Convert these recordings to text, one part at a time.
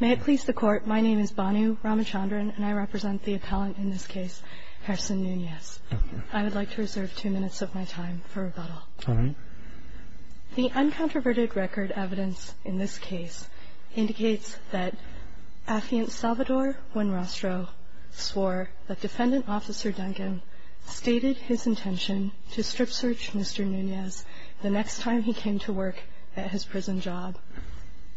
May it please the Court, my name is Bhanu Ramachandran and I represent the appellant in this case, Harrison Nunez. I would like to reserve two minutes of my time for rebuttal. All right. The uncontroverted record evidence in this case indicates that Affiant Salvador Buenrostro swore that Defendant Officer Duncan stated his intention to strip search Mr. Nunez the next time he came to work at his prison job.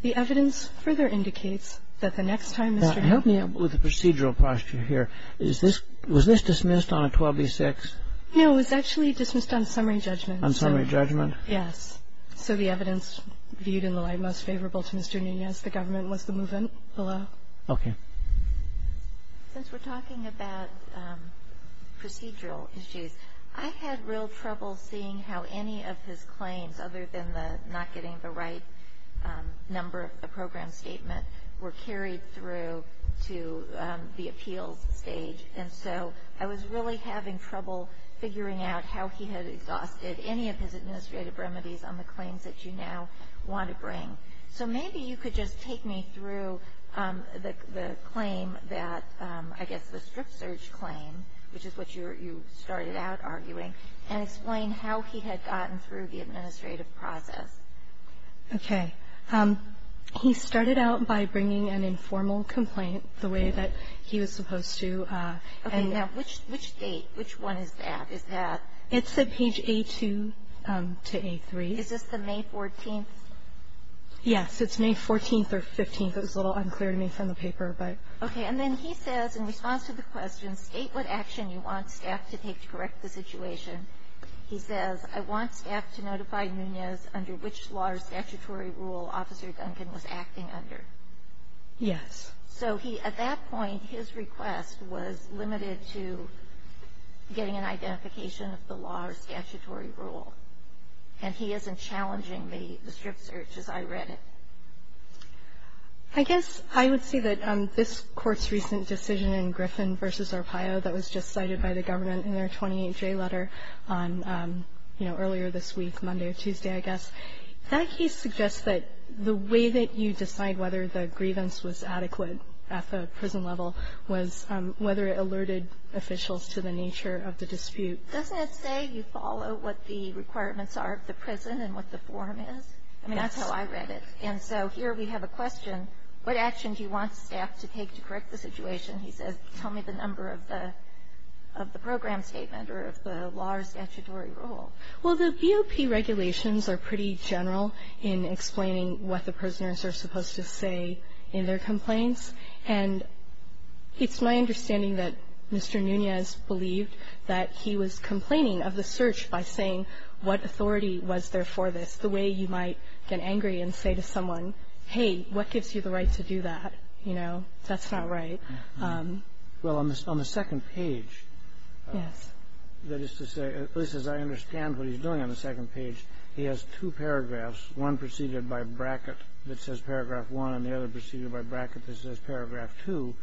The evidence further indicates that the next time Mr. Nunez Help me with the procedural posture here. Was this dismissed on a 12b-6? No, it was actually dismissed on summary judgment. On summary judgment? Yes. So the evidence viewed in the light most favorable to Mr. Nunez, the government, was the movement below. Okay. Since we're talking about procedural issues, I had real trouble seeing how any of his claims, other than not getting the right number of the program statement, were carried through to the appeals stage. And so I was really having trouble figuring out how he had exhausted any of his administrative remedies on the claims that you now want to bring. So maybe you could just take me through the claim that, I guess the strip search claim, which is what you started out arguing, and explain how he had gotten through the administrative process. Okay. He started out by bringing an informal complaint the way that he was supposed to. Okay. Now, which date, which one is that? Is that? It's at page A2 to A3. Is this the May 14th? Yes. It's May 14th or 15th. It was a little unclear to me from the paper, but. Okay. And then he says, in response to the question, state what action you want staff to take to correct the situation. He says, I want staff to notify Nunez under which law or statutory rule Officer Duncan was acting under. Yes. So he, at that point, his request was limited to getting an identification of the law or statutory rule. And he isn't challenging the strip search as I read it. I guess I would say that this Court's recent decision in Griffin v. Arpaio that was just cited by the government in their 28-J letter on, you know, earlier this week, Monday or Tuesday, I guess, that case suggests that the way that you decide whether the grievance was adequate at the prison level was whether it alerted officials to the nature of the dispute. Doesn't it say you follow what the requirements are of the prison and what the form is? I mean, that's how I read it. And so here we have a question. What action do you want staff to take to correct the situation? He says, tell me the number of the program statement or of the law or statutory rule. Well, the BOP regulations are pretty general in explaining what the prisoners are supposed to say in their complaints. And it's my understanding that Mr. Nunez believed that he was complaining of the search by saying what authority was there for this, the way you might get angry and say to someone, hey, what gives you the right to do that? You know, that's not right. Well, on the second page, that is to say, at least as I understand what he's doing on the second page, he has two paragraphs, one preceded by a bracket that says paragraph 1 and the other preceded by a bracket that says paragraph 2.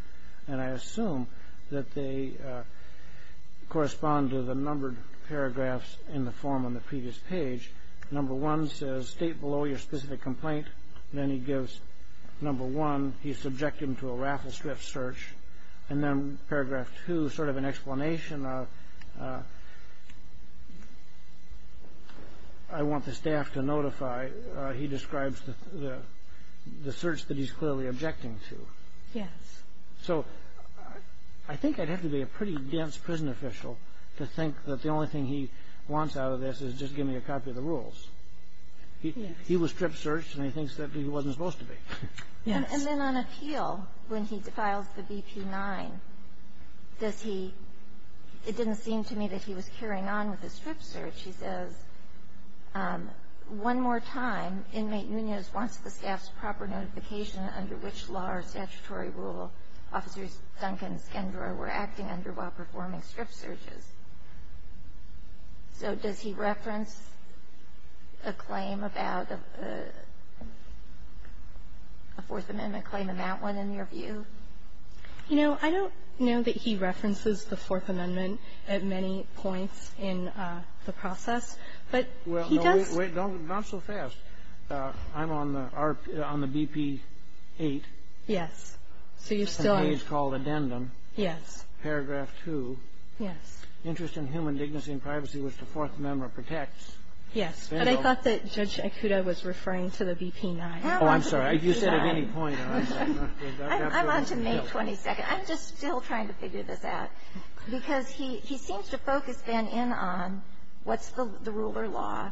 And I assume that they correspond to the numbered paragraphs in the form on the previous page. Number 1 says state below your specific complaint. Then he gives number 1. He's subjecting him to a raffle strip search. And then paragraph 2 is sort of an explanation of I want the staff to notify. He describes the search that he's clearly objecting to. Yes. So I think I'd have to be a pretty dense prison official to think that the only thing he wants out of this is just give me a copy of the rules. He was strip searched, and he thinks that he wasn't supposed to be. Yes. And then on appeal, when he files the BP-9, does he ‑‑ it didn't seem to me that he was carrying on with the strip search. He says, one more time, inmate Nunez wants the staff's proper notification under which law or statutory rule Officers Duncan and Skendroy were acting under while performing strip searches. So does he reference a claim about a Fourth Amendment claim in that one, in your view? You know, I don't know that he references the Fourth Amendment at many points in the process. But he does ‑‑ Well, wait. Not so fast. I'm on the BP-8. Yes. So you're still on ‑‑ It's called addendum. Yes. Paragraph 2. Yes. Interest in human dignity and privacy, which the Fourth Amendment protects. Yes. But I thought that Judge Ikuda was referring to the BP-9. Oh, I'm sorry. You said at any point. I'm on to May 22nd. I'm just still trying to figure this out. Because he seems to focus, then, in on what's the ruler law.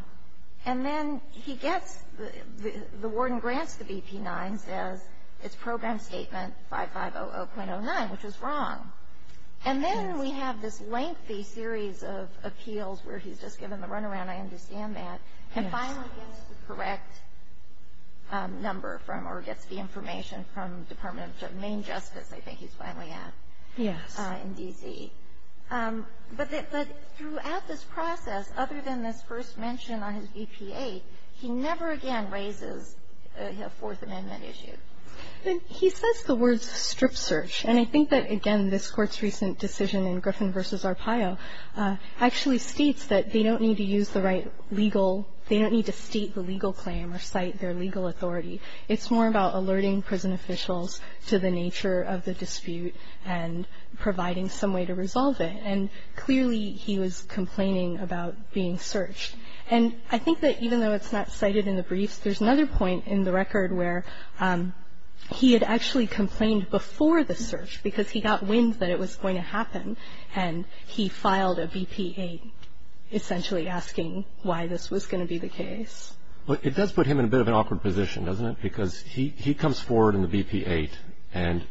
And then he gets ‑‑ the warden grants the BP-9, says it's Program Statement 5500.09, which is wrong. And then we have this lengthy series of appeals where he's just given the runaround. I understand that. Yes. And then he finally gets the correct number from, or gets the information from the Department of Main Justice, I think he's finally at. Yes. In D.C. But throughout this process, other than this first mention on his BP-8, he never again raises a Fourth Amendment issue. He says the words strip search. And I think that, again, this Court's recent decision in Griffin v. Arpaio actually states that they don't need to use the right legal ‑‑ they don't need to state the legal claim or cite their legal authority. It's more about alerting prison officials to the nature of the dispute and providing some way to resolve it. And clearly he was complaining about being searched. And I think that even though it's not cited in the briefs, there's another point in the record where he had actually complained before the search because he got wind that it was going to happen. And he filed a BP-8 essentially asking why this was going to be the case. Well, it does put him in a bit of an awkward position, doesn't it? Because he comes forward in the BP-8 and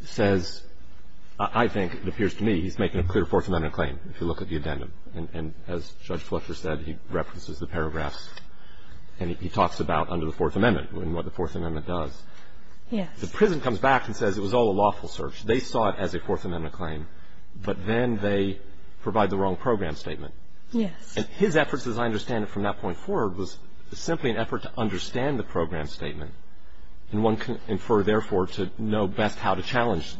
says, I think, it appears to me, he's making a clear Fourth Amendment claim if you look at the addendum. And as Judge Fletcher said, he references the paragraphs. And he talks about under the Fourth Amendment and what the Fourth Amendment does. Yes. The prison comes back and says it was all a lawful search. They saw it as a Fourth Amendment claim. But then they provide the wrong program statement. Yes. And his efforts, as I understand it from that point forward, was simply an effort to understand the program statement. And one can infer, therefore, to know best how to challenge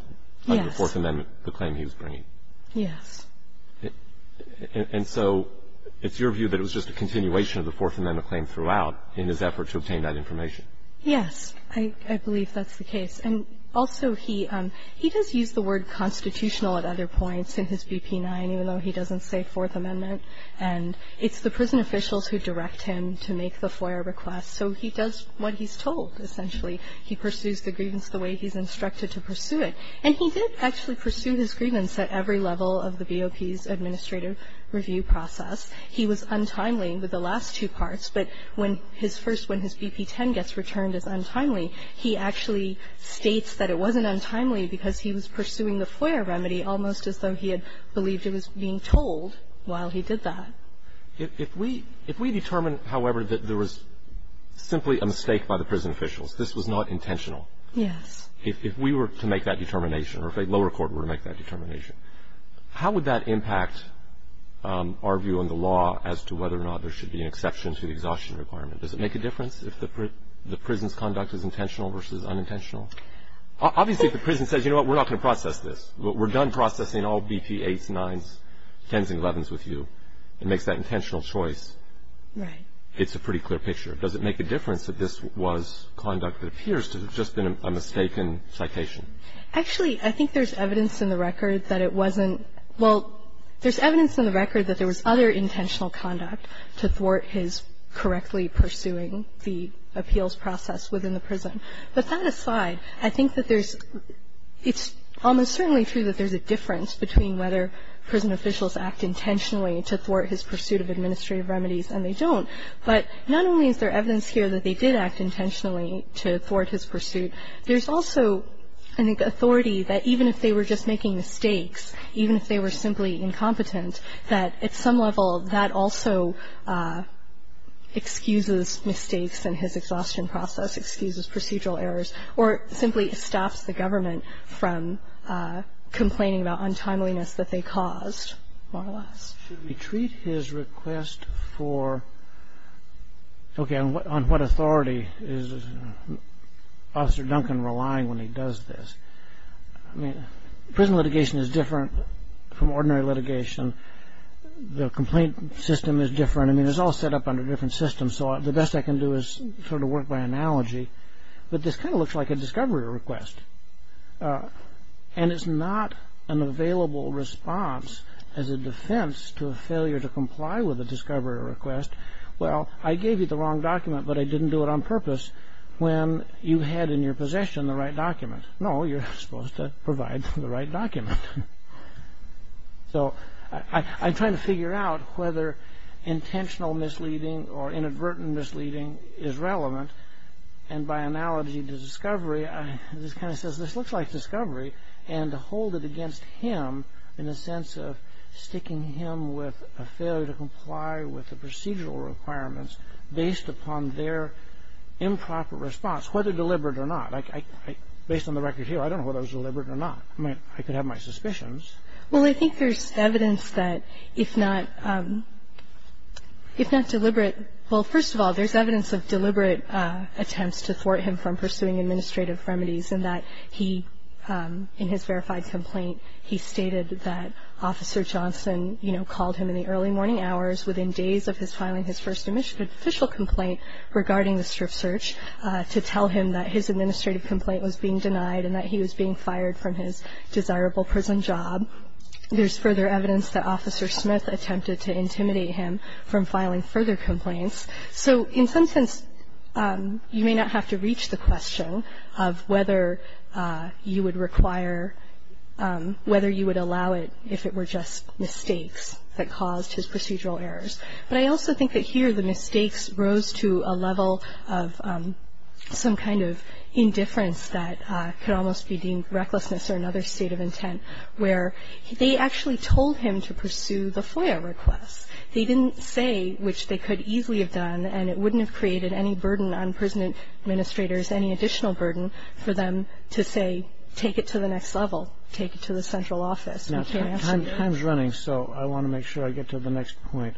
the Fourth Amendment, the claim he was bringing. Yes. And so it's your view that it was just a continuation of the Fourth Amendment claim throughout in his effort to obtain that information? Yes. I believe that's the case. And also, he does use the word constitutional at other points in his BP-9, even though he doesn't say Fourth Amendment. And it's the prison officials who direct him to make the FOIA request. So he does what he's told, essentially. He pursues the grievance the way he's instructed to pursue it. And he did actually pursue his grievance at every level of the BOP's administrative review process. He was untimely with the last two parts. But when his first, when his BP-10 gets returned as untimely, he actually states that it wasn't untimely because he was pursuing the FOIA remedy almost as though he had believed it was being told while he did that. If we determine, however, that there was simply a mistake by the prison officials, this was not intentional. Yes. If we were to make that determination or if a lower court were to make that determination, how would that impact our view on the law as to whether or not there should be an exception to the exhaustion requirement? Does it make a difference if the prison's conduct is intentional versus unintentional? Obviously, if the prison says, you know what, we're not going to process this. We're done processing all BP-8s, 9s, 10s, and 11s with you. It makes that intentional choice. Right. It's a pretty clear picture. Does it make a difference that this was conduct that appears to have just been a mistaken citation? Actually, I think there's evidence in the record that it wasn't – well, there's other intentional conduct to thwart his correctly pursuing the appeals process within the prison, but that aside, I think that there's – it's almost certainly true that there's a difference between whether prison officials act intentionally to thwart his pursuit of administrative remedies and they don't, but not only is there evidence here that they did act intentionally to thwart his pursuit, there's also, I think, authority that even if they were just making mistakes, even if they were simply incompetent, that at some level that also excuses mistakes in his exhaustion process, excuses procedural errors, or simply stops the government from complaining about untimeliness that they caused, more or less. Should we treat his request for – okay, on what authority is Officer Duncan relying when he does this? I mean, prison litigation is different from ordinary litigation. The complaint system is different. I mean, it's all set up under different systems, so the best I can do is sort of work by analogy, but this kind of looks like a discovery request, and it's not an available response as a defense to a failure to comply with a discovery request. Well, I gave you the wrong document, but I didn't do it on purpose when you had in your possession the right document. No, you're supposed to provide the right document. So, I'm trying to figure out whether intentional misleading or inadvertent misleading is relevant, and by analogy to discovery, this kind of says this looks like discovery, and to hold it against him in the sense of sticking him with a failure to comply with the procedural requirements based upon their improper response, whether deliberate or not. Based on the record here, I don't know whether it was deliberate or not. I mean, I could have my suspicions. Well, I think there's evidence that if not – if not deliberate – well, first of all, there's evidence of deliberate attempts to thwart him from pursuing administrative remedies in that he – in his verified complaint, he stated that Officer Johnson, you know, called him in the early morning hours within days of his filing his first official complaint regarding this search to tell him that his administrative complaint was being denied and that he was being fired from his desirable prison job. There's further evidence that Officer Smith attempted to intimidate him from filing further complaints. So, in some sense, you may not have to reach the question of whether you would require – whether you would allow it if it were just mistakes that caused his procedural errors. But I also think that here the mistakes rose to a level of some kind of indifference that could almost be deemed recklessness or another state of intent, where they actually told him to pursue the FOIA request. They didn't say, which they could easily have done, and it wouldn't have created any burden on prison administrators, any additional burden for them to say, take it to the next level, take it to the central office. Now, time's running, so I want to make sure I get to the next point.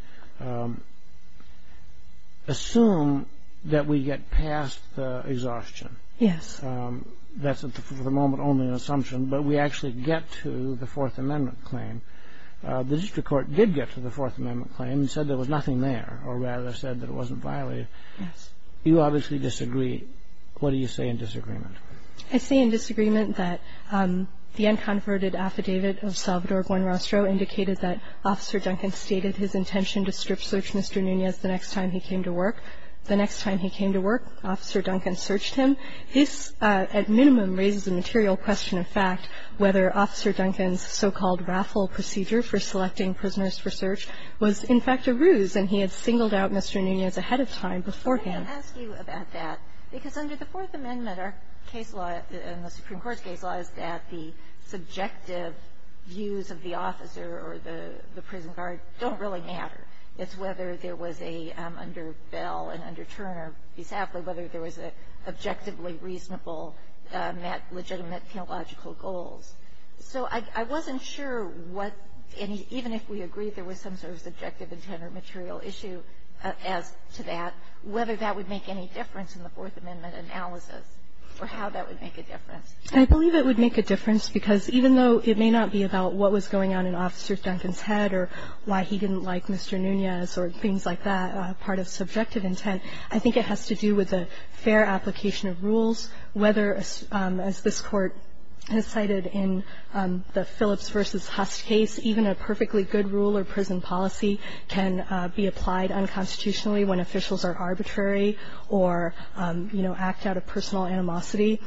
Assume that we get past the exhaustion. Yes. That's for the moment only an assumption, but we actually get to the Fourth Amendment claim. The district court did get to the Fourth Amendment claim and said there was nothing there, or rather said that it wasn't violated. Yes. You obviously disagree. What do you say in disagreement? I say in disagreement that the unconverted affidavit of Salvador Buenrostro indicated that Officer Duncan stated his intention to strip search Mr. Nunez the next time he came to work. The next time he came to work, Officer Duncan searched him. This, at minimum, raises a material question of fact whether Officer Duncan's so-called raffle procedure for selecting prisoners for search was, in fact, a ruse, and he had singled out Mr. Nunez ahead of time beforehand. I want to ask you about that, because under the Fourth Amendment, our case law and the Supreme Court's case law is that the subjective views of the officer or the prison guard don't really matter. It's whether there was a under Bell and under Turner, be sadly, whether there was an objectively reasonable legitimate theological goals. So I wasn't sure what any – even if we agreed there was some sort of subjective intent or material issue as to that, whether that would make any difference in the Fourth Amendment analysis or how that would make a difference. I believe it would make a difference, because even though it may not be about what was going on in Officer Duncan's head or why he didn't like Mr. Nunez or things like that, part of subjective intent, I think it has to do with a fair application of rules, whether, as this Court has cited in the Phillips v. Hust case, even a perfectly good rule or prison policy can be applied unconstitutionally when officials are arbitrary or, you know, act out of personal animosity.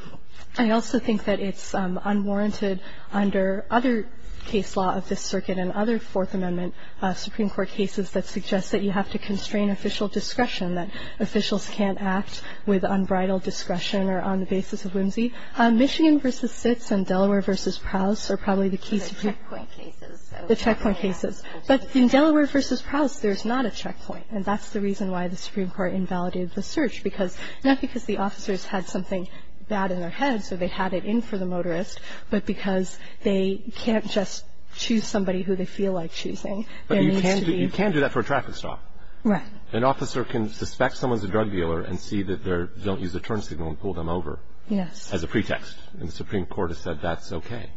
I also think that it's unwarranted under other case law of this Circuit and other Fourth Amendment Supreme Court cases that suggest that you have to constrain official discretion, that officials can't act with unbridled discretion or on the basis of whimsy. Michigan v. Sitz and Delaware v. Prowse are probably the key Supreme Court cases. The checkpoint cases. But in Delaware v. Prowse, there's not a checkpoint. And that's the reason why the Supreme Court invalidated the search, because not because the officers had something bad in their heads or they had it in for the motorist, but because they can't just choose somebody who they feel like choosing. They need to be ---- But you can do that for a traffic stop. Right. An officer can suspect someone's a drug dealer and see that they don't use a turn signal and pull them over. Yes. As a pretext. And the Supreme Court has said that's okay.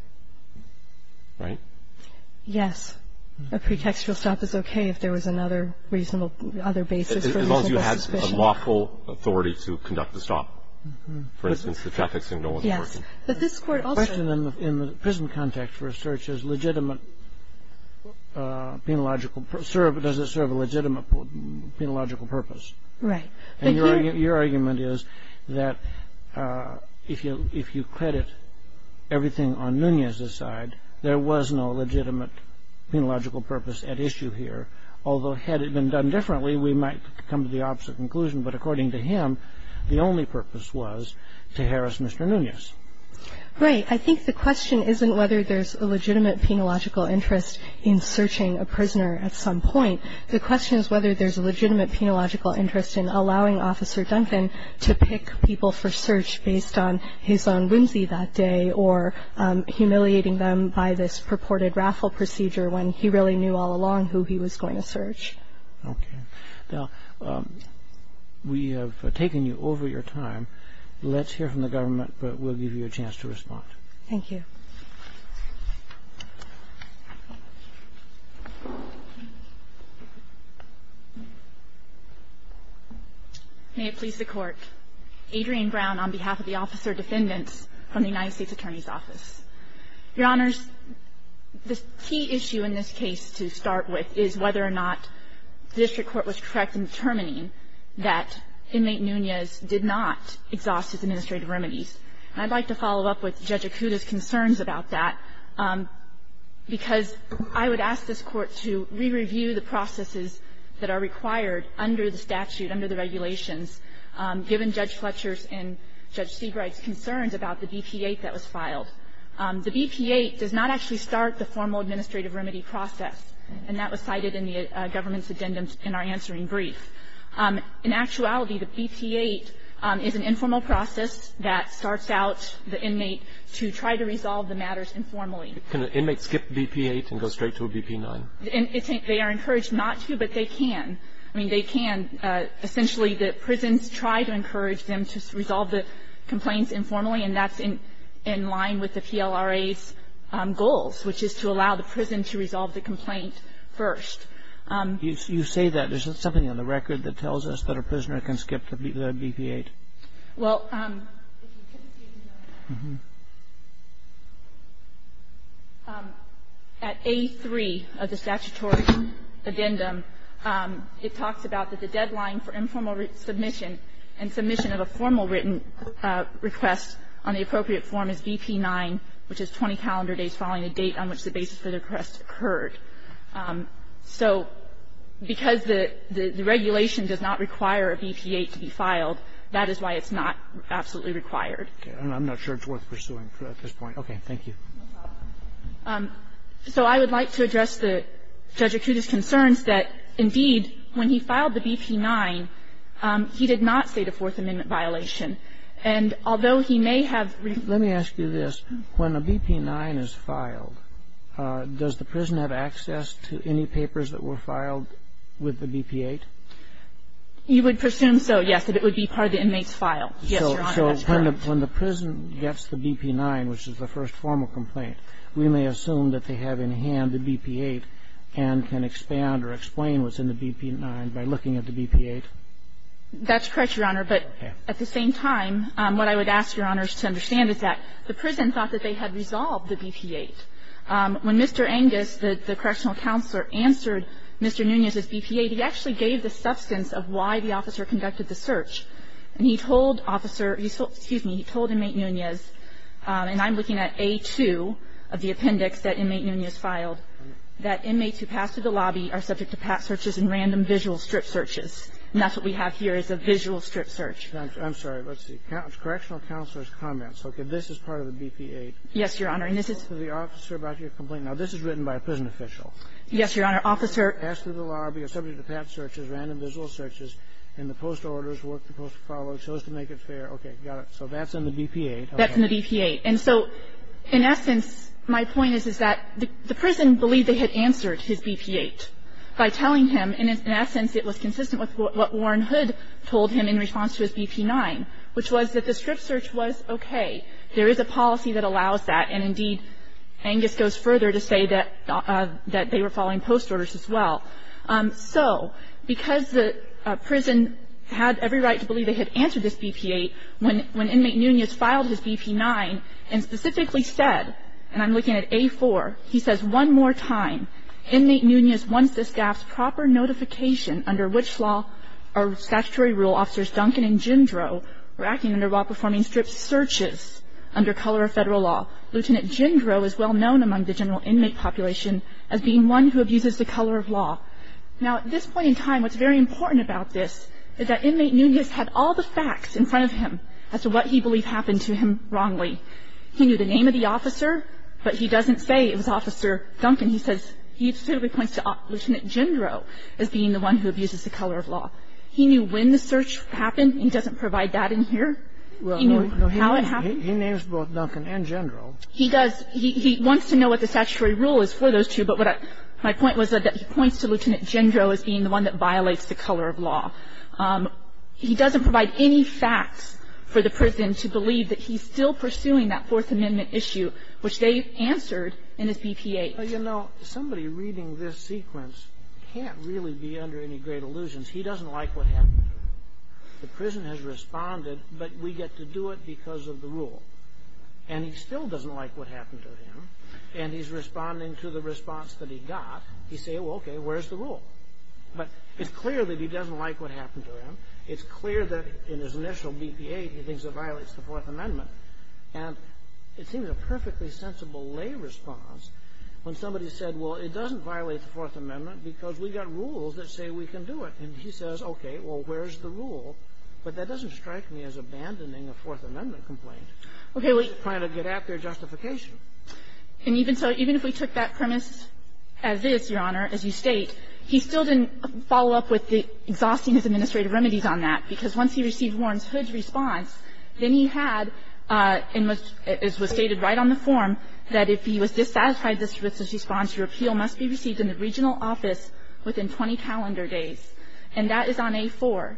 Right? Yes. A pretextual stop is okay if there was another reasonable other basis for the official suspicion. As long as you have the lawful authority to conduct the stop. For instance, the traffic signal wasn't working. Yes. But this Court also ---- The question in the prison context for a search is legitimate penological ---- does it serve a legitimate penological purpose. Right. And your argument is that if you credit everything on Nunez's side, there was no reason for a search. Right. There was no legitimate penological purpose at issue here, although had it been done differently, we might come to the opposite conclusion. But according to him, the only purpose was to harass Mr. Nunez. Right. I think the question isn't whether there's a legitimate penological interest in searching a prisoner at some point. The question is whether there's a legitimate penological interest in allowing Officer Duncan to pick people for search based on his own whimsy that day or humiliating them by this purported raffle procedure when he really knew all along who he was going to search. Okay. Now, we have taken you over your time. Let's hear from the government, but we'll give you a chance to respond. Thank you. May it please the Court. Adrian Brown on behalf of the officer defendants from the United States Attorney's Office. Your Honors, the key issue in this case to start with is whether or not the district court was correct in determining that inmate Nunez did not exhaust his administrative remedies. And I'd like to follow up with Judge Acuda's concerns about that, because I would ask this Court to re-review the processes that are required under the statute, under the regulations, given Judge Fletcher's and Judge Seabright's concerns about the BP-8 that was filed. The BP-8 does not actually start the formal administrative remedy process, and that was cited in the government's addendum in our answering brief. In actuality, the BP-8 is an informal process that starts out the inmate to try to resolve the matters informally. Can an inmate skip the BP-8 and go straight to a BP-9? They are encouraged not to, but they can. I mean, they can. Essentially, the prisons try to encourage them to resolve the complaints informally, and that's in line with the PLRA's goals, which is to allow the prison to resolve the complaint first. You say that. There's something on the record that tells us that a prisoner can skip the BP-8. Well, at A3 of the statutory addendum, it talks about that the deadline for informal submission and submission of a formal written request on the appropriate form is BP-9, which is 20 calendar days following the date on which the basis for the request occurred. So because the regulation does not require a BP-8 to be filed, that is why it's not absolutely required. Okay. And I'm not sure it's worth pursuing at this point. Okay. Thank you. So I would like to address Judge Acuta's concerns that, indeed, when he filed the BP-9, he did not state a Fourth Amendment violation. And although he may have ---- Let me ask you this. When a BP-9 is filed, does the prison have access to any papers that were filed with the BP-8? You would presume so, yes, that it would be part of the inmate's file. Yes, Your Honor, that's correct. So when the prison gets the BP-9, which is the first formal complaint, we may assume that they have in hand the BP-8 and can expand or explain what's in the BP-9 by looking at the BP-8? That's correct, Your Honor. Okay. At the same time, what I would ask Your Honors to understand is that the prison thought that they had resolved the BP-8. When Mr. Angus, the correctional counselor, answered Mr. Nunez's BP-8, he actually gave the substance of why the officer conducted the search. And he told officer ---- excuse me, he told inmate Nunez, and I'm looking at A-2 of the appendix that inmate Nunez filed, that inmates who pass through the lobby are subject to pat searches and random visual strip searches. And that's what we have here is a visual strip search. I'm sorry. Let's see. Correctional counselor's comments. Okay. This is part of the BP-8. Yes, Your Honor. And this is ---- The officer about your complaint. Now, this is written by a prison official. Yes, Your Honor. Officer ---- Passed through the lobby, are subject to pat searches, random visual searches, and the post orders, work to post follow, chose to make it fair. Okay. Got it. So that's in the BP-8. That's in the BP-8. And so, in essence, my point is, is that the prison believed they had answered his BP-8 by telling him, and in essence, it was consistent with what Warren Hood told him in response to his BP-9, which was that the strip search was okay. There is a policy that allows that. And, indeed, Angus goes further to say that they were following post orders as well. So because the prison had every right to believe they had answered this BP-8, when inmate Nunez filed his BP-9 and specifically said, and I'm looking at A-4, he says one more time, Inmate Nunez wants this gap's proper notification under which law or statutory rule Officers Duncan and Jindro were acting under while performing strip searches under color of federal law. Lieutenant Jindro is well known among the general inmate population as being one who abuses the color of law. Now, at this point in time, what's very important about this is that inmate Nunez had all the facts in front of him as to what he believed happened to him wrongly. He knew the name of the officer, but he doesn't say it was Officer Duncan. He says he specifically points to Lieutenant Jindro as being the one who abuses the color of law. He knew when the search happened. He doesn't provide that in here. He knew how it happened. He knows both Duncan and Jindro. He does. He wants to know what the statutory rule is for those two. But my point was that he points to Lieutenant Jindro as being the one that violates the color of law. He doesn't provide any facts for the prison to believe that he's still pursuing that Fourth Amendment issue, which they answered in his BP-8. Well, you know, somebody reading this sequence can't really be under any great illusions. He doesn't like what happened to him. The prison has responded, but we get to do it because of the rule. And he still doesn't like what happened to him, and he's responding to the response that he got. He says, well, okay, where's the rule? But it's clear that he doesn't like what happened to him. It's clear that in his initial BP-8, he thinks it violates the Fourth Amendment. And it seems a perfectly sensible lay response when somebody said, well, it doesn't violate the Fourth Amendment because we got rules that say we can do it. And he says, okay, well, where's the rule? But that doesn't strike me as abandoning a Fourth Amendment complaint. He's trying to get at their justification. And even so, even if we took that premise as is, Your Honor, as you state, he still didn't follow up with the exhausting his administrative remedies on that, because once he received Warren's hood response, then he had, as was stated right on the form, that if he was dissatisfied with this response, your appeal must be received in the regional office within 20 calendar days. And that is on A-4.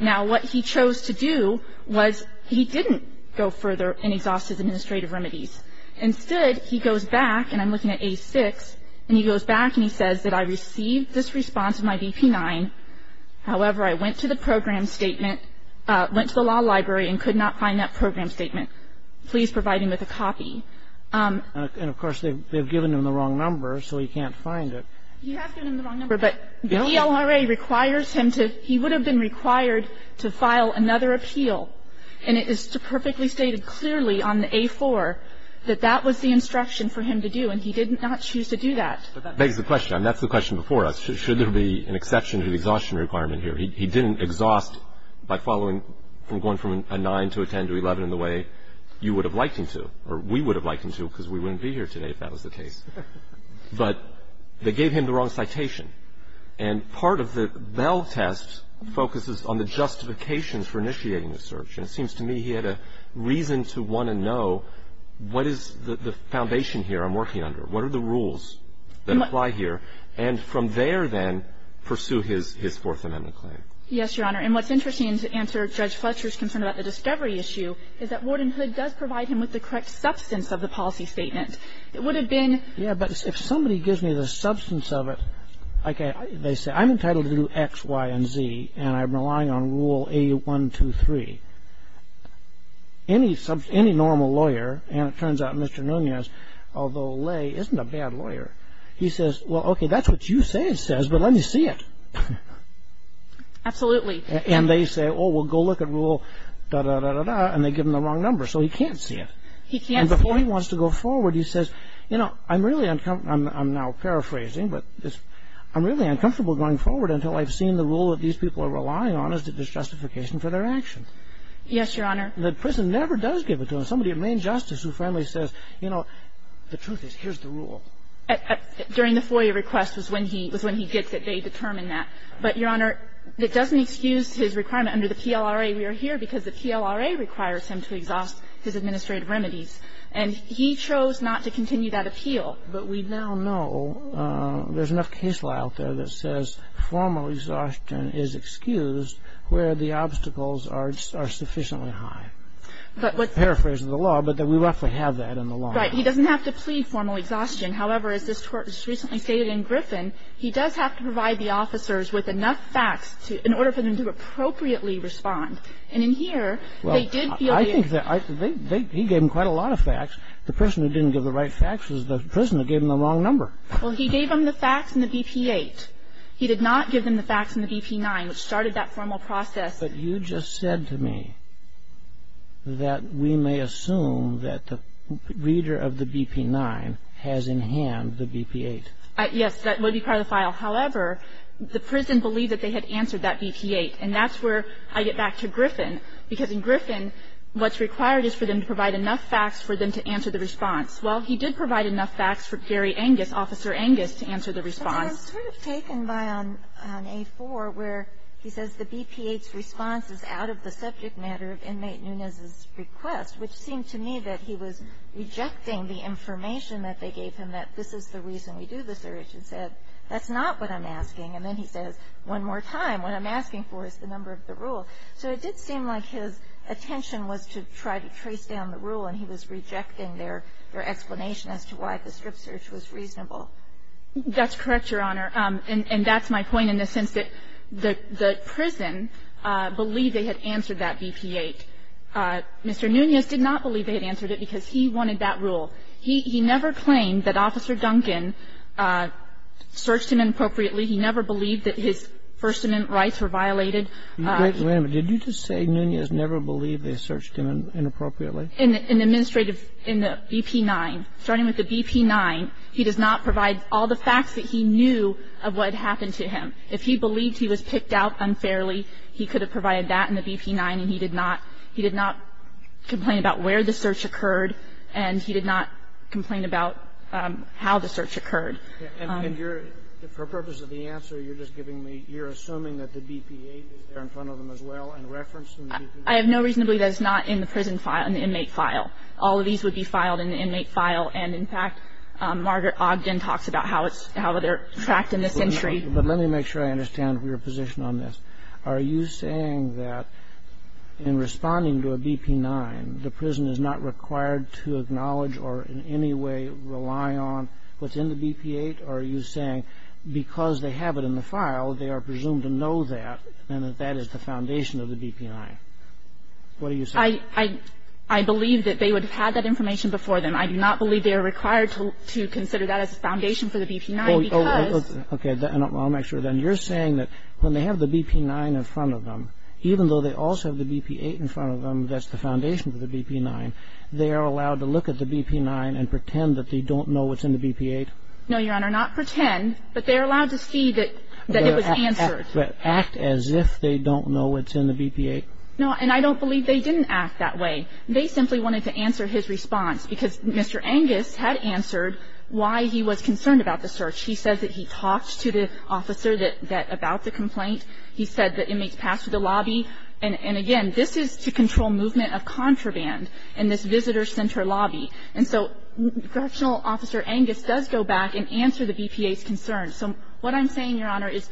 Now, what he chose to do was he didn't go further and exhaust his administrative remedies. Instead, he goes back, and I'm looking at A-6, and he goes back and he says that I received this response in my BP-9. However, I went to the program statement, went to the law library and could not find that program statement. Please provide him with a copy. And, of course, they've given him the wrong number, so he can't find it. He has given him the wrong number, but the ELRA requires him to he would have been required to file another appeal. And it is perfectly stated clearly on the A-4 that that was the instruction for him to do, and he did not choose to do that. But that begs the question. That's the question before us. Should there be an exception to the exhaustion requirement here? He didn't exhaust by following from going from a 9 to a 10 to a 11 in the way you would have liked him to, or we would have liked him to because we wouldn't be here today if that was the case. But they gave him the wrong citation. And part of the Bell test focuses on the justifications for initiating the search. And it seems to me he had a reason to want to know what is the foundation here I'm working under? What are the rules that apply here? And from there, then, pursue his Fourth Amendment claim. Yes, Your Honor. And what's interesting to answer Judge Fletcher's concern about the discovery issue is that Wardenhood does provide him with the correct substance of the policy statement. It would have been ---- Yeah, but if somebody gives me the substance of it, like they say, I'm entitled to do X, Y, and Z, and I'm relying on Rule A123. Any normal lawyer, and it turns out Mr. Noonan is, although Lay isn't a bad lawyer, he says, well, okay, that's what you say it says, but let me see it. Absolutely. And they say, oh, well, go look at Rule da-da-da-da-da, and they give him the wrong number. So he can't see it. He can't see it. And before he wants to go forward, he says, you know, I'm really uncomfortable ---- I'm now paraphrasing, but I'm really uncomfortable going forward until I've seen the rule that these people are relying on is the justification for their action. Yes, Your Honor. The prison never does give it to them. Somebody at Main Justice who finally says, you know, the truth is, here's the da-da-da-da, and I'll look at Rule da-da-da-da. So the former exhaustion during the FOIA request was when he gets it. They determine that. But, Your Honor, it doesn't excuse his requirement under the PLRA. We are here because the PLRA requires him to exhaust his administrative remedies. And he chose not to continue that appeal. Well, but we now know there's enough case law out there that says formal exhaustion is excused where the obstacles are sufficiently high. Paraphrase of the law, but we roughly have that in the law. Right. He doesn't have to plead formal exhaustion. However, as this Court just recently stated in Griffin, he does have to provide the officers with enough facts in order for them to appropriately respond. And in here, they did feel the – Well, I think they – he gave them quite a lot of facts. The person who didn't give the right facts was the person who gave them the wrong number. Well, he gave them the facts in the BP-8. He did not give them the facts in the BP-9, which started that formal process. But you just said to me that we may assume that the reader of the BP-9 has in hand the BP-8. Yes. That would be part of the file. However, the prison believed that they had answered that BP-8. And that's where I get back to Griffin, because in Griffin, what's required is for them to provide enough facts for them to answer the response. Well, he did provide enough facts for Gary Angus, Officer Angus, to answer the response. But then I'm sort of taken by on A-4, where he says the BP-8's response is out of the subject matter of Inmate Nunez's request, which seemed to me that he was rejecting the information that they gave him, that this is the reason we do the search, and said, that's not what I'm asking. And then he says, one more time, what I'm asking for is the number of the rule. So it did seem like his attention was to try to trace down the rule, and he was rejecting their explanation as to why the strip search was reasonable. That's correct, Your Honor. And that's my point in the sense that the prison believed they had answered that BP-8. Mr. Nunez did not believe they had answered it because he wanted that rule. He never claimed that Officer Duncan searched him inappropriately. He never believed that his First Amendment rights were violated. Wait a minute. Did you just say Nunez never believed they searched him inappropriately? In the administrative, in the BP-9. Starting with the BP-9, he does not provide all the facts that he knew of what had happened to him. If he believed he was picked out unfairly, he could have provided that in the BP-9, and he did not. He did not complain about where the search occurred, and he did not complain about how the search occurred. And you're, for purpose of the answer, you're just giving me, you're assuming that the BP-8 is there in front of them as well and referenced in the BP-9? I have no reason to believe that it's not in the prison file, in the inmate file. All of these would be filed in the inmate file, and, in fact, Margaret Ogden talks about how it's, how they're tracked in this entry. But let me make sure I understand your position on this. Are you saying that in responding to a BP-9, the prison is not required to acknowledge or in any way rely on what's in the BP-8? Or are you saying because they have it in the file, they are presumed to know that and that that is the foundation of the BP-9? What are you saying? I believe that they would have had that information before them. I do not believe they are required to consider that as a foundation for the BP-9 because Okay. I'll make sure then. You're saying that when they have the BP-9 in front of them, even though they also have the BP-8 in front of them, that's the foundation for the BP-9, they are allowed to look at the BP-9 and pretend that they don't know what's in the BP-8? No, Your Honor. Not pretend, but they are allowed to see that it was answered. But act as if they don't know what's in the BP-8? No. And I don't believe they didn't act that way. They simply wanted to answer his response because Mr. Angus had answered why he was concerned about the search. He said that he talked to the officer about the complaint. He said that inmates passed through the lobby. And, again, this is to control movement of contraband in this visitor center lobby. And so Correctional Officer Angus does go back and answer the BP-8's concerns. So what I'm saying, Your Honor, is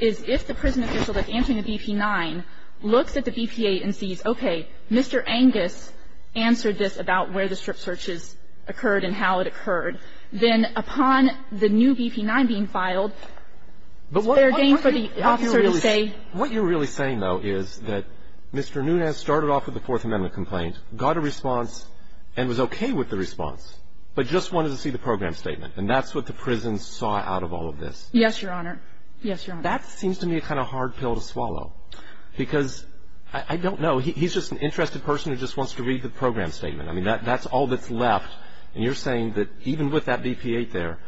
if the prison official that's answering the BP-9 looks at the BP-8 and sees, okay, Mr. Angus answered this about where the strip searches occurred and how it occurred, then upon the new BP-9 being filed, is there a gain for the officer to say? What you're really saying, though, is that Mr. Nunez started off with a Fourth Amendment complaint, got a response, and was okay with the response, but just wanted to see the program statement. And that's what the prison saw out of all of this. Yes, Your Honor. Yes, Your Honor. That seems to me a kind of hard pill to swallow because I don't know. He's just an interested person who just wants to read the program statement. I mean, that's all that's left. And you're saying that even with that BP-8 there,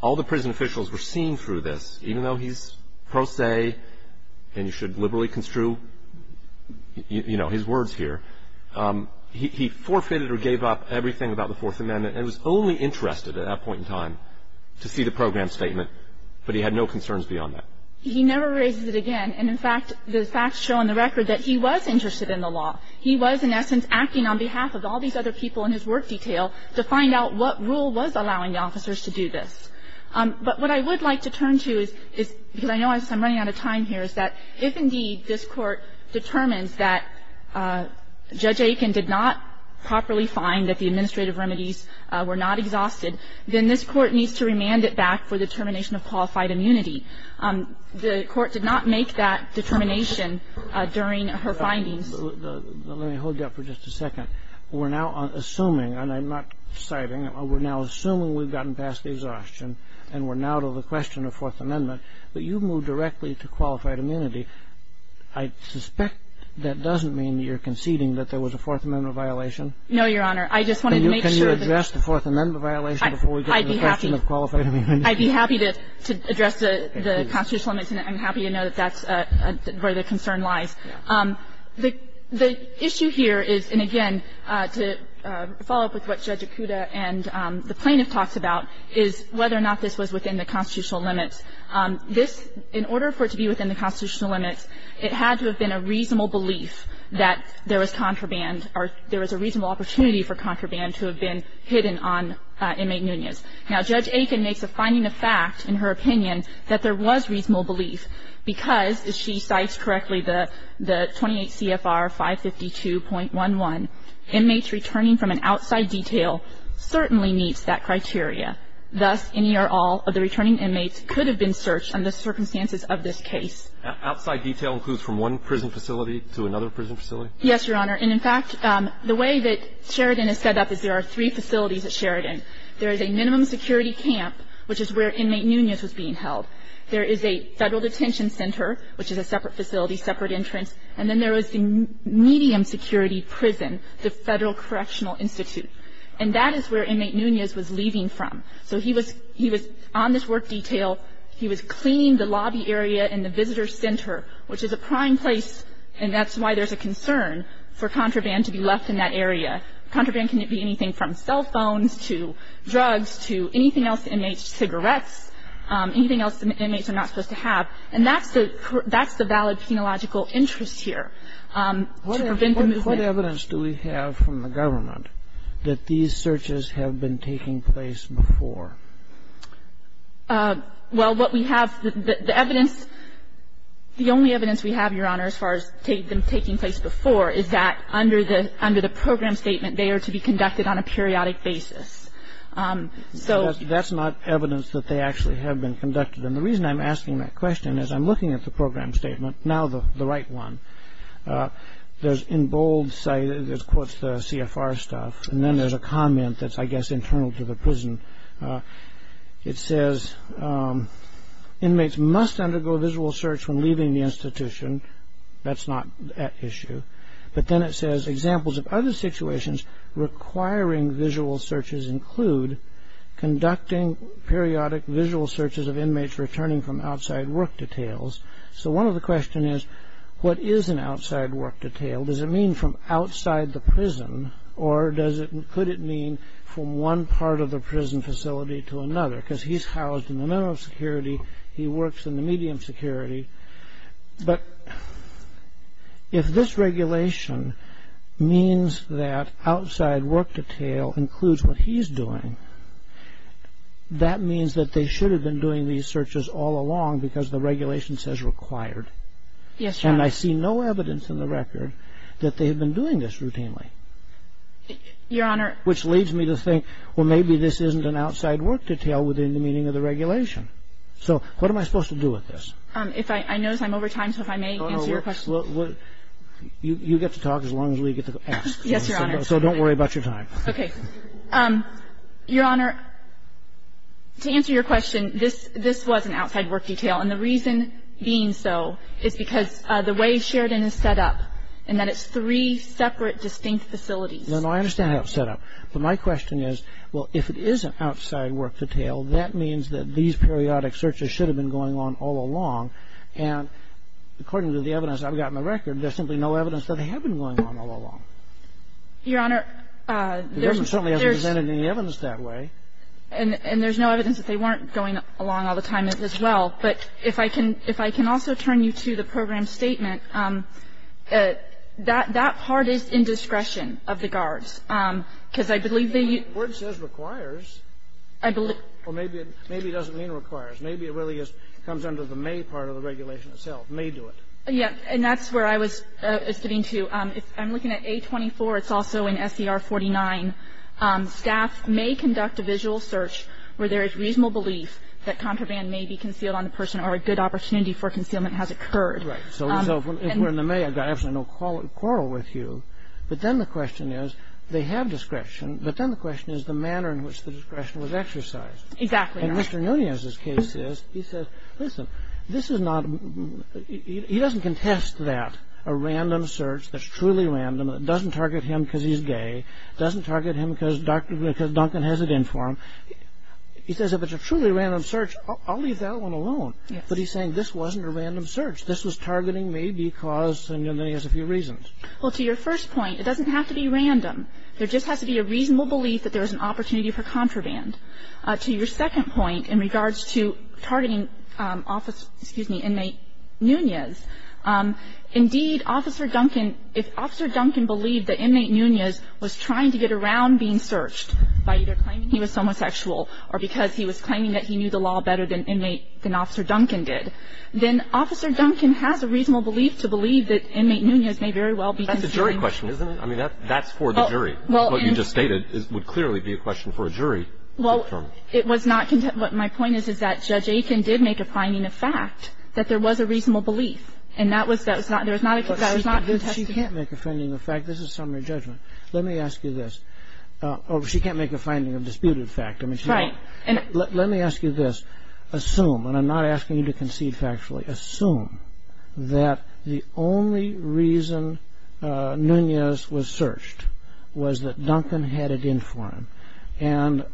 all the prison officials were seen through this, even though he's pro se and you should liberally construe, you know, his words here. He forfeited or gave up everything about the Fourth Amendment and was only interested at that point in time to see the program statement, but he had no concerns beyond that. He never raises it again. And, in fact, the facts show on the record that he was interested in the law. He was, in essence, acting on behalf of all these other people in his work detail to find out what rule was allowing the officers to do this. But what I would like to turn to is, because I know I'm running out of time here, is that if, indeed, this Court determines that Judge Aiken did not properly find that the administrative remedies were not exhausted, then this Court needs to remand it back for the termination of qualified immunity. The Court did not make that determination during her findings. Let me hold you up for just a second. We're now assuming, and I'm not citing, we're now assuming we've gotten past the exhaustion and we're now to the question of Fourth Amendment, but you've moved directly to qualified immunity. I suspect that doesn't mean that you're conceding that there was a Fourth Amendment violation. No, Your Honor. I just wanted to make sure that the Fourth Amendment violation before we get to the question of qualified immunity. I'd be happy to address the constitutional amendments, and I'm happy to know that that's where the concern lies. The issue here is, and again, to follow up with what Judge Akuta and the plaintiff talked about, is whether or not this was within the constitutional limits. This, in order for it to be within the constitutional limits, it had to have been a reasonable belief that there was contraband or there was a reasonable opportunity for contraband to have been hidden on inmate Nunez. Now, Judge Aiken makes a finding of fact, in her opinion, that there was reasonable belief because, as she cites correctly, the 28 CFR 552.11, inmates returning from an outside detail certainly meets that criteria. Thus, any or all of the returning inmates could have been searched under the circumstances of this case. Outside detail includes from one prison facility to another prison facility? Yes, Your Honor. And in fact, the way that Sheridan is set up is there are three facilities at Sheridan. There is a minimum security camp, which is where inmate Nunez was being held. There is a Federal Detention Center, which is a separate facility, separate entrance. And then there is the medium security prison, the Federal Correctional Institute. And that is where inmate Nunez was leaving from. So he was on this work detail. He was cleaning the lobby area and the visitor's center, which is a prime place, and that's why there's a concern for contraband to be left in that area. Contraband can be anything from cell phones to drugs to anything else inmates, cigarettes, anything else inmates are not supposed to have. And that's the valid penological interest here to prevent the movement. What evidence do we have from the government that these searches have been taking place before? Well, what we have, the evidence, the only evidence we have, Your Honor, as far as them taking place before is that under the program statement, they are to be conducted on a periodic basis. So that's not evidence that they actually have been conducted. And the reason I'm asking that question is I'm looking at the program statement, now the right one. There's in bold, it quotes the CFR stuff. And then there's a comment that's, I guess, internal to the prison. It says, inmates must undergo visual search when leaving the institution. That's not at issue. But then it says, examples of other situations requiring visual searches include conducting periodic visual searches of inmates returning from outside work details. So one of the questions is, what is an outside work detail? Does it mean from outside the prison? Or could it mean from one part of the prison facility to another? Because he's housed in the minimum security. He works in the medium security. But if this regulation means that outside work detail includes what he's doing, that means that they should have been doing these searches all along because the regulation says required. Yes, Your Honor. And I see no evidence in the record that they have been doing this routinely. Your Honor. Which leads me to think, well, maybe this isn't an outside work detail within the meaning of the regulation. So what am I supposed to do with this? If I notice I'm over time, so if I may answer your question. You get to talk as long as we get to ask. Yes, Your Honor. So don't worry about your time. Okay. Your Honor, to answer your question, this was an outside work detail. And the reason being so is because the way Sheridan is set up and that it's three separate distinct facilities. No, no. I understand how it's set up. But my question is, well, if it is an outside work detail, that means that these periodic searches should have been going on all along. And according to the evidence I've got in the record, there's simply no evidence that they have been going on all along. Your Honor, there's no evidence that way. And there's no evidence that they weren't going along all the time as well. But if I can also turn you to the program statement, that part is in discretion of the guards. Because I believe they use the word. The word says requires. Or maybe it doesn't mean requires. Maybe it really just comes under the may part of the regulation itself, may do it. Yes, and that's where I was getting to. I'm looking at A24. It's also in SCR 49. Staff may conduct a visual search where there is reasonable belief that contraband may be concealed on the person or a good opportunity for concealment has occurred. Right. So if we're in the may, I've got absolutely no quarrel with you. But then the question is, they have discretion. But then the question is the manner in which the discretion was exercised. Exactly. And Mr. Nunez's case is, he says, listen, this is not he doesn't contest that, a random search that's truly random, that doesn't target him because he's gay, doesn't target him because Dr. Duncan has it in for him. He says if it's a truly random search, I'll leave that one alone. But he's saying this wasn't a random search. This was targeting me because, and then he has a few reasons. Well, to your first point, it doesn't have to be random. There just has to be a reasonable belief that there is an opportunity for contraband. To your second point in regards to targeting office, excuse me, inmate Nunez, indeed, Officer Duncan, if Officer Duncan believed that inmate Nunez was trying to get around being searched by either claiming he was homosexual or because he was claiming that he knew the law better than inmate, than Officer Duncan did, then Officer Duncan has a reasonable belief to believe that inmate Nunez may very well be concealing That's a good question, isn't it? I mean, that's for the jury. What you just stated would clearly be a question for a jury. Well, it was not, what my point is, is that Judge Aiken did make a finding of fact that there was a reasonable belief. And that was, that was not, that was not contested. She can't make a finding of fact. This is summary judgment. Let me ask you this. She can't make a finding of disputed fact. Right. Let me ask you this. Assume, and I'm not asking you to concede factually, assume that the only reason Nunez was searched was that Duncan had it in for him. And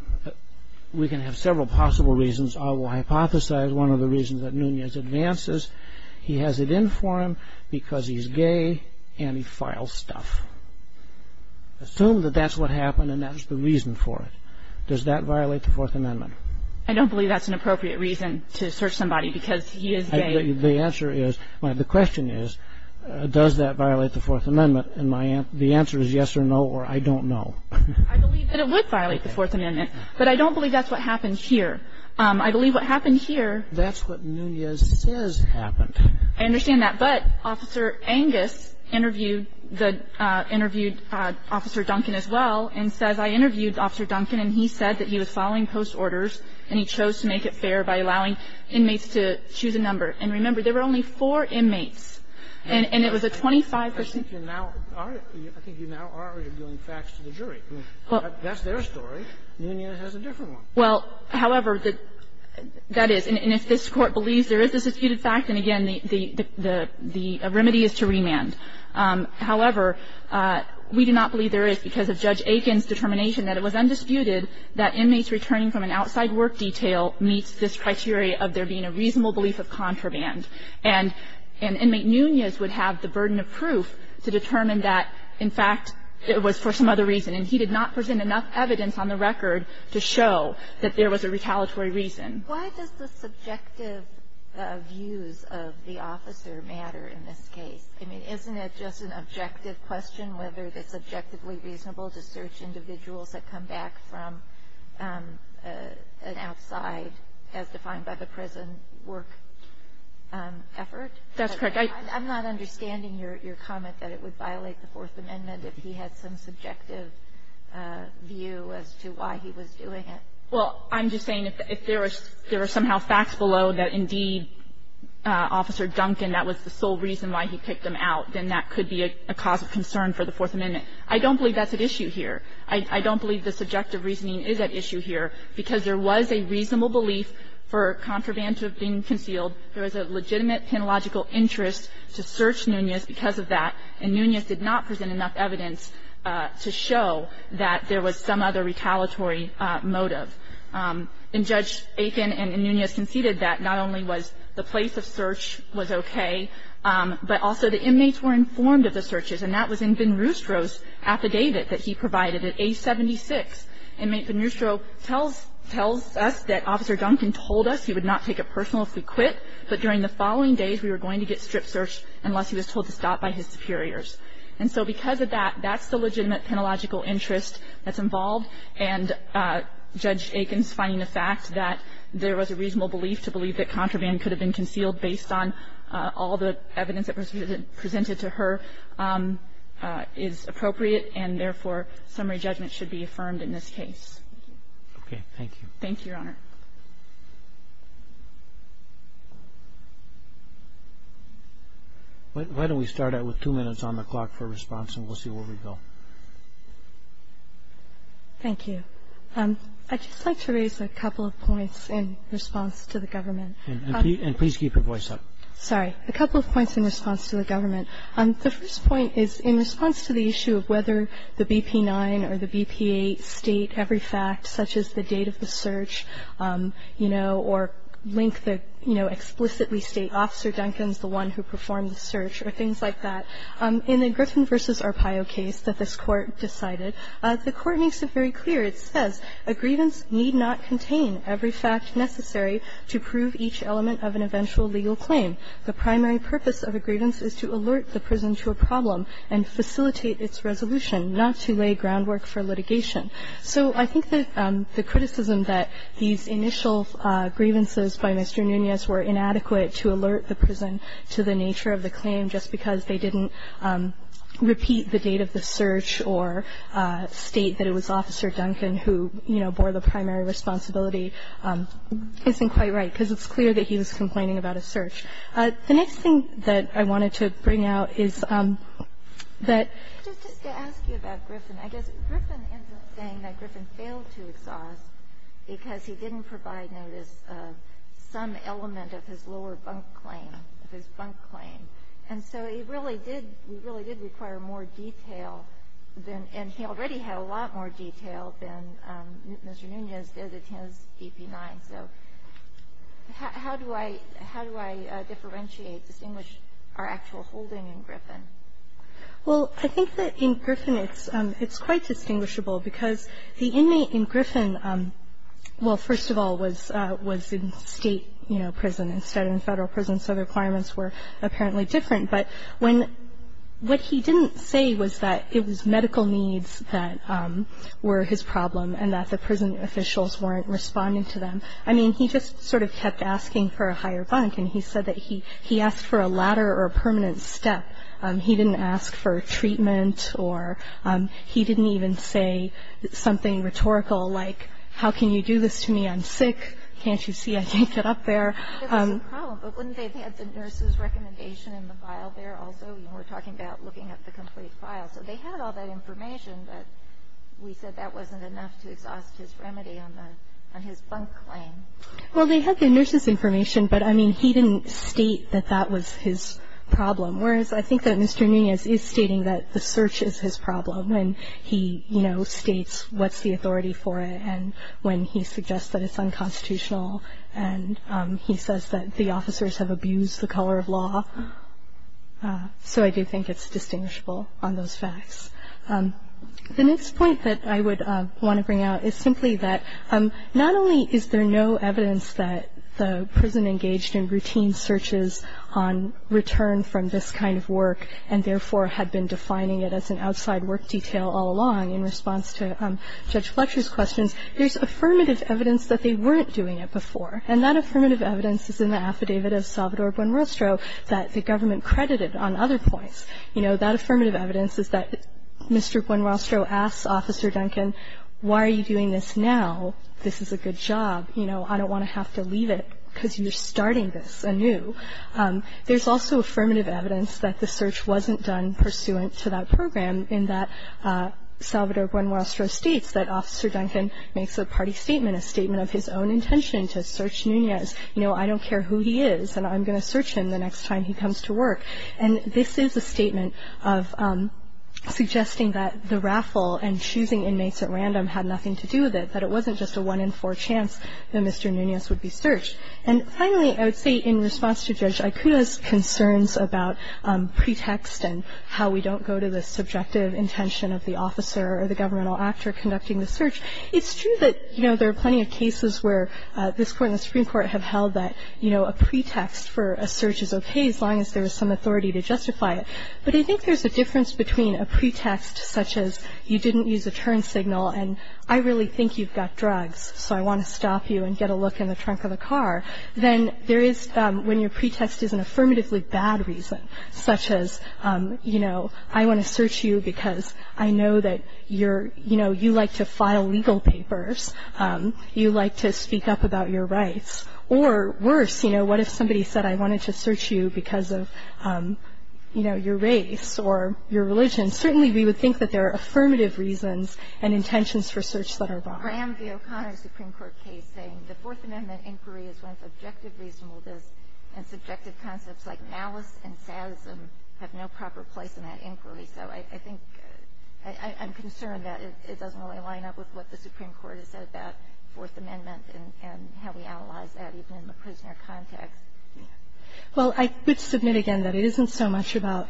we can have several possible reasons. I will hypothesize one of the reasons that Nunez advances, he has it in for him because he's gay and he files stuff. Assume that that's what happened and that's the reason for it. Does that violate the Fourth Amendment? I don't believe that's an appropriate reason to search somebody because he is gay. The answer is, the question is, does that violate the Fourth Amendment? And my answer, the answer is yes or no or I don't know. I believe that it would violate the Fourth Amendment. But I don't believe that's what happened here. I believe what happened here. That's what Nunez says happened. I understand that. But Officer Angus interviewed the, interviewed Officer Duncan as well and says, I interviewed Officer Duncan and he said that he was following post orders and he chose to make it fair by allowing inmates to choose a number. And remember, there were only four inmates and it was a 25 percent. I think you now are arguing facts to the jury. That's their story. Nunez has a different one. Well, however, that is. And if this Court believes there is a disputed fact, then again, the remedy is to remand. However, we do not believe there is because of Judge Aiken's determination that it was undisputed that inmates returning from an outside work detail meets this criteria of there being a reasonable belief of contraband. And inmate Nunez would have the burden of proof to determine that, in fact, it was for some other reason. And he did not present enough evidence on the record to show that there was a retaliatory reason. Why does the subjective views of the officer matter in this case? I mean, isn't it just an objective question whether it's objectively reasonable to search individuals that come back from an outside, as defined by the prison, work effort? That's correct. I'm not understanding your comment that it would violate the Fourth Amendment if he had some subjective view as to why he was doing it. Well, I'm just saying if there were somehow facts below that, indeed, Officer Duncan, that was the sole reason why he picked them out, then that could be a cause of concern for the Fourth Amendment. I don't believe that's at issue here. I don't believe the subjective reasoning is at issue here, because there was a reasonable belief for contraband to have been concealed. There was a legitimate penological interest to search Nunez because of that. And Nunez did not present enough evidence to show that there was some other retaliatory motive. And Judge Aiken and Nunez conceded that not only was the place of search was okay, but also the inmates were informed of the searches. And that was in Van Roostro's affidavit that he provided at age 76. Inmate Van Roostro tells us that Officer Duncan told us he would not take it personal if we quit, but during the following days we were going to get strip searched unless he was told to stop by his superiors. So I think there is a reasonable belief that contraband was concealed. I think there is a reasonable belief that it was concealed, and Judge Aiken's finding the fact that there was a reasonable belief to believe that contraband could have been concealed based on all the evidence that was presented to her is appropriate and therefore summary judgment should be affirmed in this case. Roberts. Thank you. Thank you, Your Honor. Why don't we start out with two minutes on the clock for response and we'll see where we go. Thank you. I'd just like to raise a couple of points in response to the government. And please keep your voice up. Sorry. A couple of points in response to the government. The first point is in response to the issue of whether the BP-9 or the BP-8 state every fact, such as the date of the search, you know, or link the, you know, explicitly state Officer Duncan's the one who performed the search or things like that. In the Griffin v. Arpaio case that this Court decided, the Court makes it very clear. It says, A grievance need not contain every fact necessary to prove each element of an eventual legal claim. The primary purpose of a grievance is to alert the prison to a problem and facilitate its resolution, not to lay groundwork for litigation. So I think that the criticism that these initial grievances by Mr. Nunez were inadequate to alert the prison to the nature of the claim just because they didn't repeat the date of the search or state that it was Officer Duncan who, you know, bore the primary responsibility isn't quite right, because it's clear that he was complaining about a search. The next thing that I wanted to bring out is that — I'm saying that Griffin failed to exhaust because he didn't provide notice of some element of his lower bunk claim, of his bunk claim. And so he really did — he really did require more detail than — and he already had a lot more detail than Mr. Nunez did in his DP-9. So how do I — how do I differentiate, distinguish our actual holding in Griffin? Well, I think that in Griffin it's — it's quite distinguishable because the inmate in Griffin, well, first of all, was — was in State, you know, prison instead of in Federal prison, so the requirements were apparently different. But when — what he didn't say was that it was medical needs that were his problem and that the prison officials weren't responding to them. I mean, he just sort of kept asking for a higher bunk, and he said that he — he asked for a ladder or a permanent step. He didn't ask for treatment or — he didn't even say something rhetorical like, how can you do this to me? I'm sick. Can't you see I can't get up there? There was a problem, but wouldn't they have had the nurse's recommendation in the file there also? You know, we're talking about looking at the complete file. So they had all that information, but we said that wasn't enough to exhaust his remedy on the — on his bunk claim. Well, they had the nurse's information, but, I mean, he didn't state that that was his problem, whereas I think that Mr. Nunez is stating that the search is his problem when he, you know, states what's the authority for it and when he suggests that it's unconstitutional and he says that the officers have abused the color of law. So I do think it's distinguishable on those facts. The next point that I would want to bring out is simply that not only is there no evidence that the prison engaged in routine searches on return from this kind of work and, therefore, had been defining it as an outside work detail all along in response to Judge Fletcher's questions, there's affirmative evidence that they weren't doing it before. And that affirmative evidence is in the affidavit of Salvador Buenrostro that the government credited on other points. You know, that affirmative evidence is that Mr. Buenrostro asks Officer Duncan, why are you doing this now? This is a good job. You know, I don't want to have to leave it because you're starting this anew. There's also affirmative evidence that the search wasn't done pursuant to that program in that Salvador Buenrostro states that Officer Duncan makes a party statement, a statement of his own intention to search Nunez. You know, I don't care who he is and I'm going to search him the next time he comes to work. And this is a statement of suggesting that the raffle and choosing inmates at random had nothing to do with it, that it wasn't just a one-in-four chance that Mr. Nunez would be searched. And finally, I would say in response to Judge Aicuda's concerns about pretext and how we don't go to the subjective intention of the officer or the governmental actor conducting the search, it's true that, you know, there are plenty of cases where this Court and the Supreme Court have held that, you know, a pretext for a search is okay as long as there is some authority to justify it. But I think there's a difference between a pretext such as you didn't use a turn signal and I really think you've got drugs, so I want to stop you and get a look in the trunk of the car, than there is when your pretext is an affirmatively bad reason, such as, you know, I want to search you because I know that you're, you know, you like to file legal papers, you like to speak up about your rights. Or worse, you know, what if somebody said I wanted to search you because of, you know, your race or your religion? Certainly, we would think that there are affirmative reasons and intentions for search that are wrong. Kagan. I am the O'Connor Supreme Court case saying the Fourth Amendment inquiry is one of subjective reasonableness, and subjective concepts like malice and sadism have no proper place in that inquiry. So I think I'm concerned that it doesn't really line up with what the Supreme Court has said about Fourth Amendment and how we analyze that even in the prisoner context. Well, I would submit again that it isn't so much about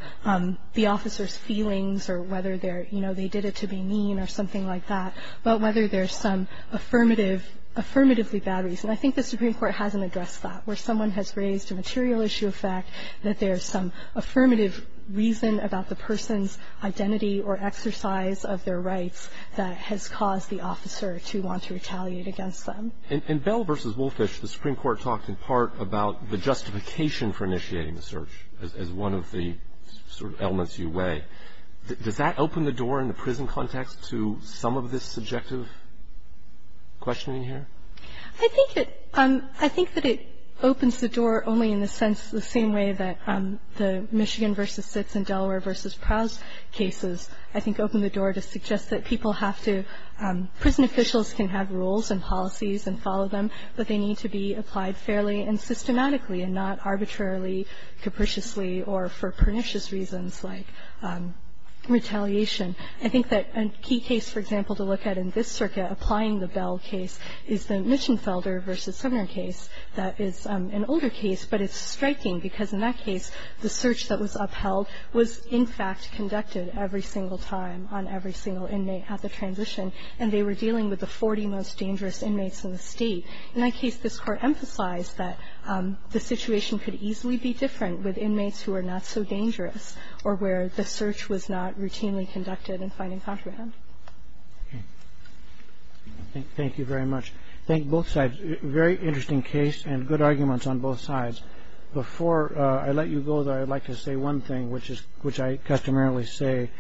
the officer's feelings or whether they're, you know, they did it to be mean or something like that, but whether there is some affirmative, affirmatively bad reason. I think the Supreme Court hasn't addressed that, where someone has raised a material issue of fact that there is some affirmative reason about the person's identity or exercise of their rights that has caused the officer to want to retaliate against them. In Bell v. Wolfish, the Supreme Court talked in part about the justification for initiating the search as one of the sort of elements you weigh. Does that open the door in the prison context to some of this subjective questioning here? I think that it opens the door only in the sense, the same way that the Michigan v. Bell case opens the door to suggest that people have to – prison officials can have rules and policies and follow them, but they need to be applied fairly and systematically and not arbitrarily, capriciously, or for pernicious reasons like retaliation. I think that a key case, for example, to look at in this circuit, applying the Bell case, is the Mitchenfelder v. Sumner case. That is an older case, but it's striking because in that case, the search that was conducted was not routinely conducted. And the court was dealing with every single inmate at the transition, and they were dealing with the 40 most dangerous inmates in the state. In that case, this court emphasized that the situation could easily be different with inmates who are not so dangerous or where the search was not routinely conducted and finding comprehend. Thank you very much. Thank you, both sides. Very interesting case and good arguments on both sides. Before I let you go, though, I'd like to say one thing, which I customarily say.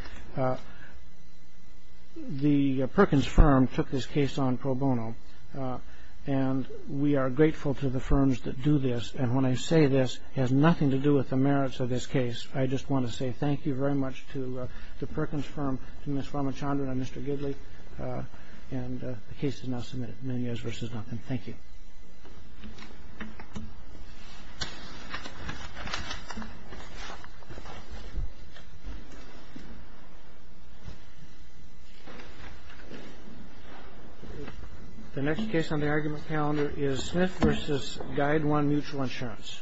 The Perkins firm took this case on pro bono, and we are grateful to the firms that do this. And when I say this, it has nothing to do with the merits of this case. I just want to say thank you very much to the Perkins firm, to Ms. Farmachandran and Mr. Gidley. And the case is now submitted, Munoz v. Nothing. Thank you. Thank you. The next case on the argument calendar is Smith v. Guide One Mutual Insurance.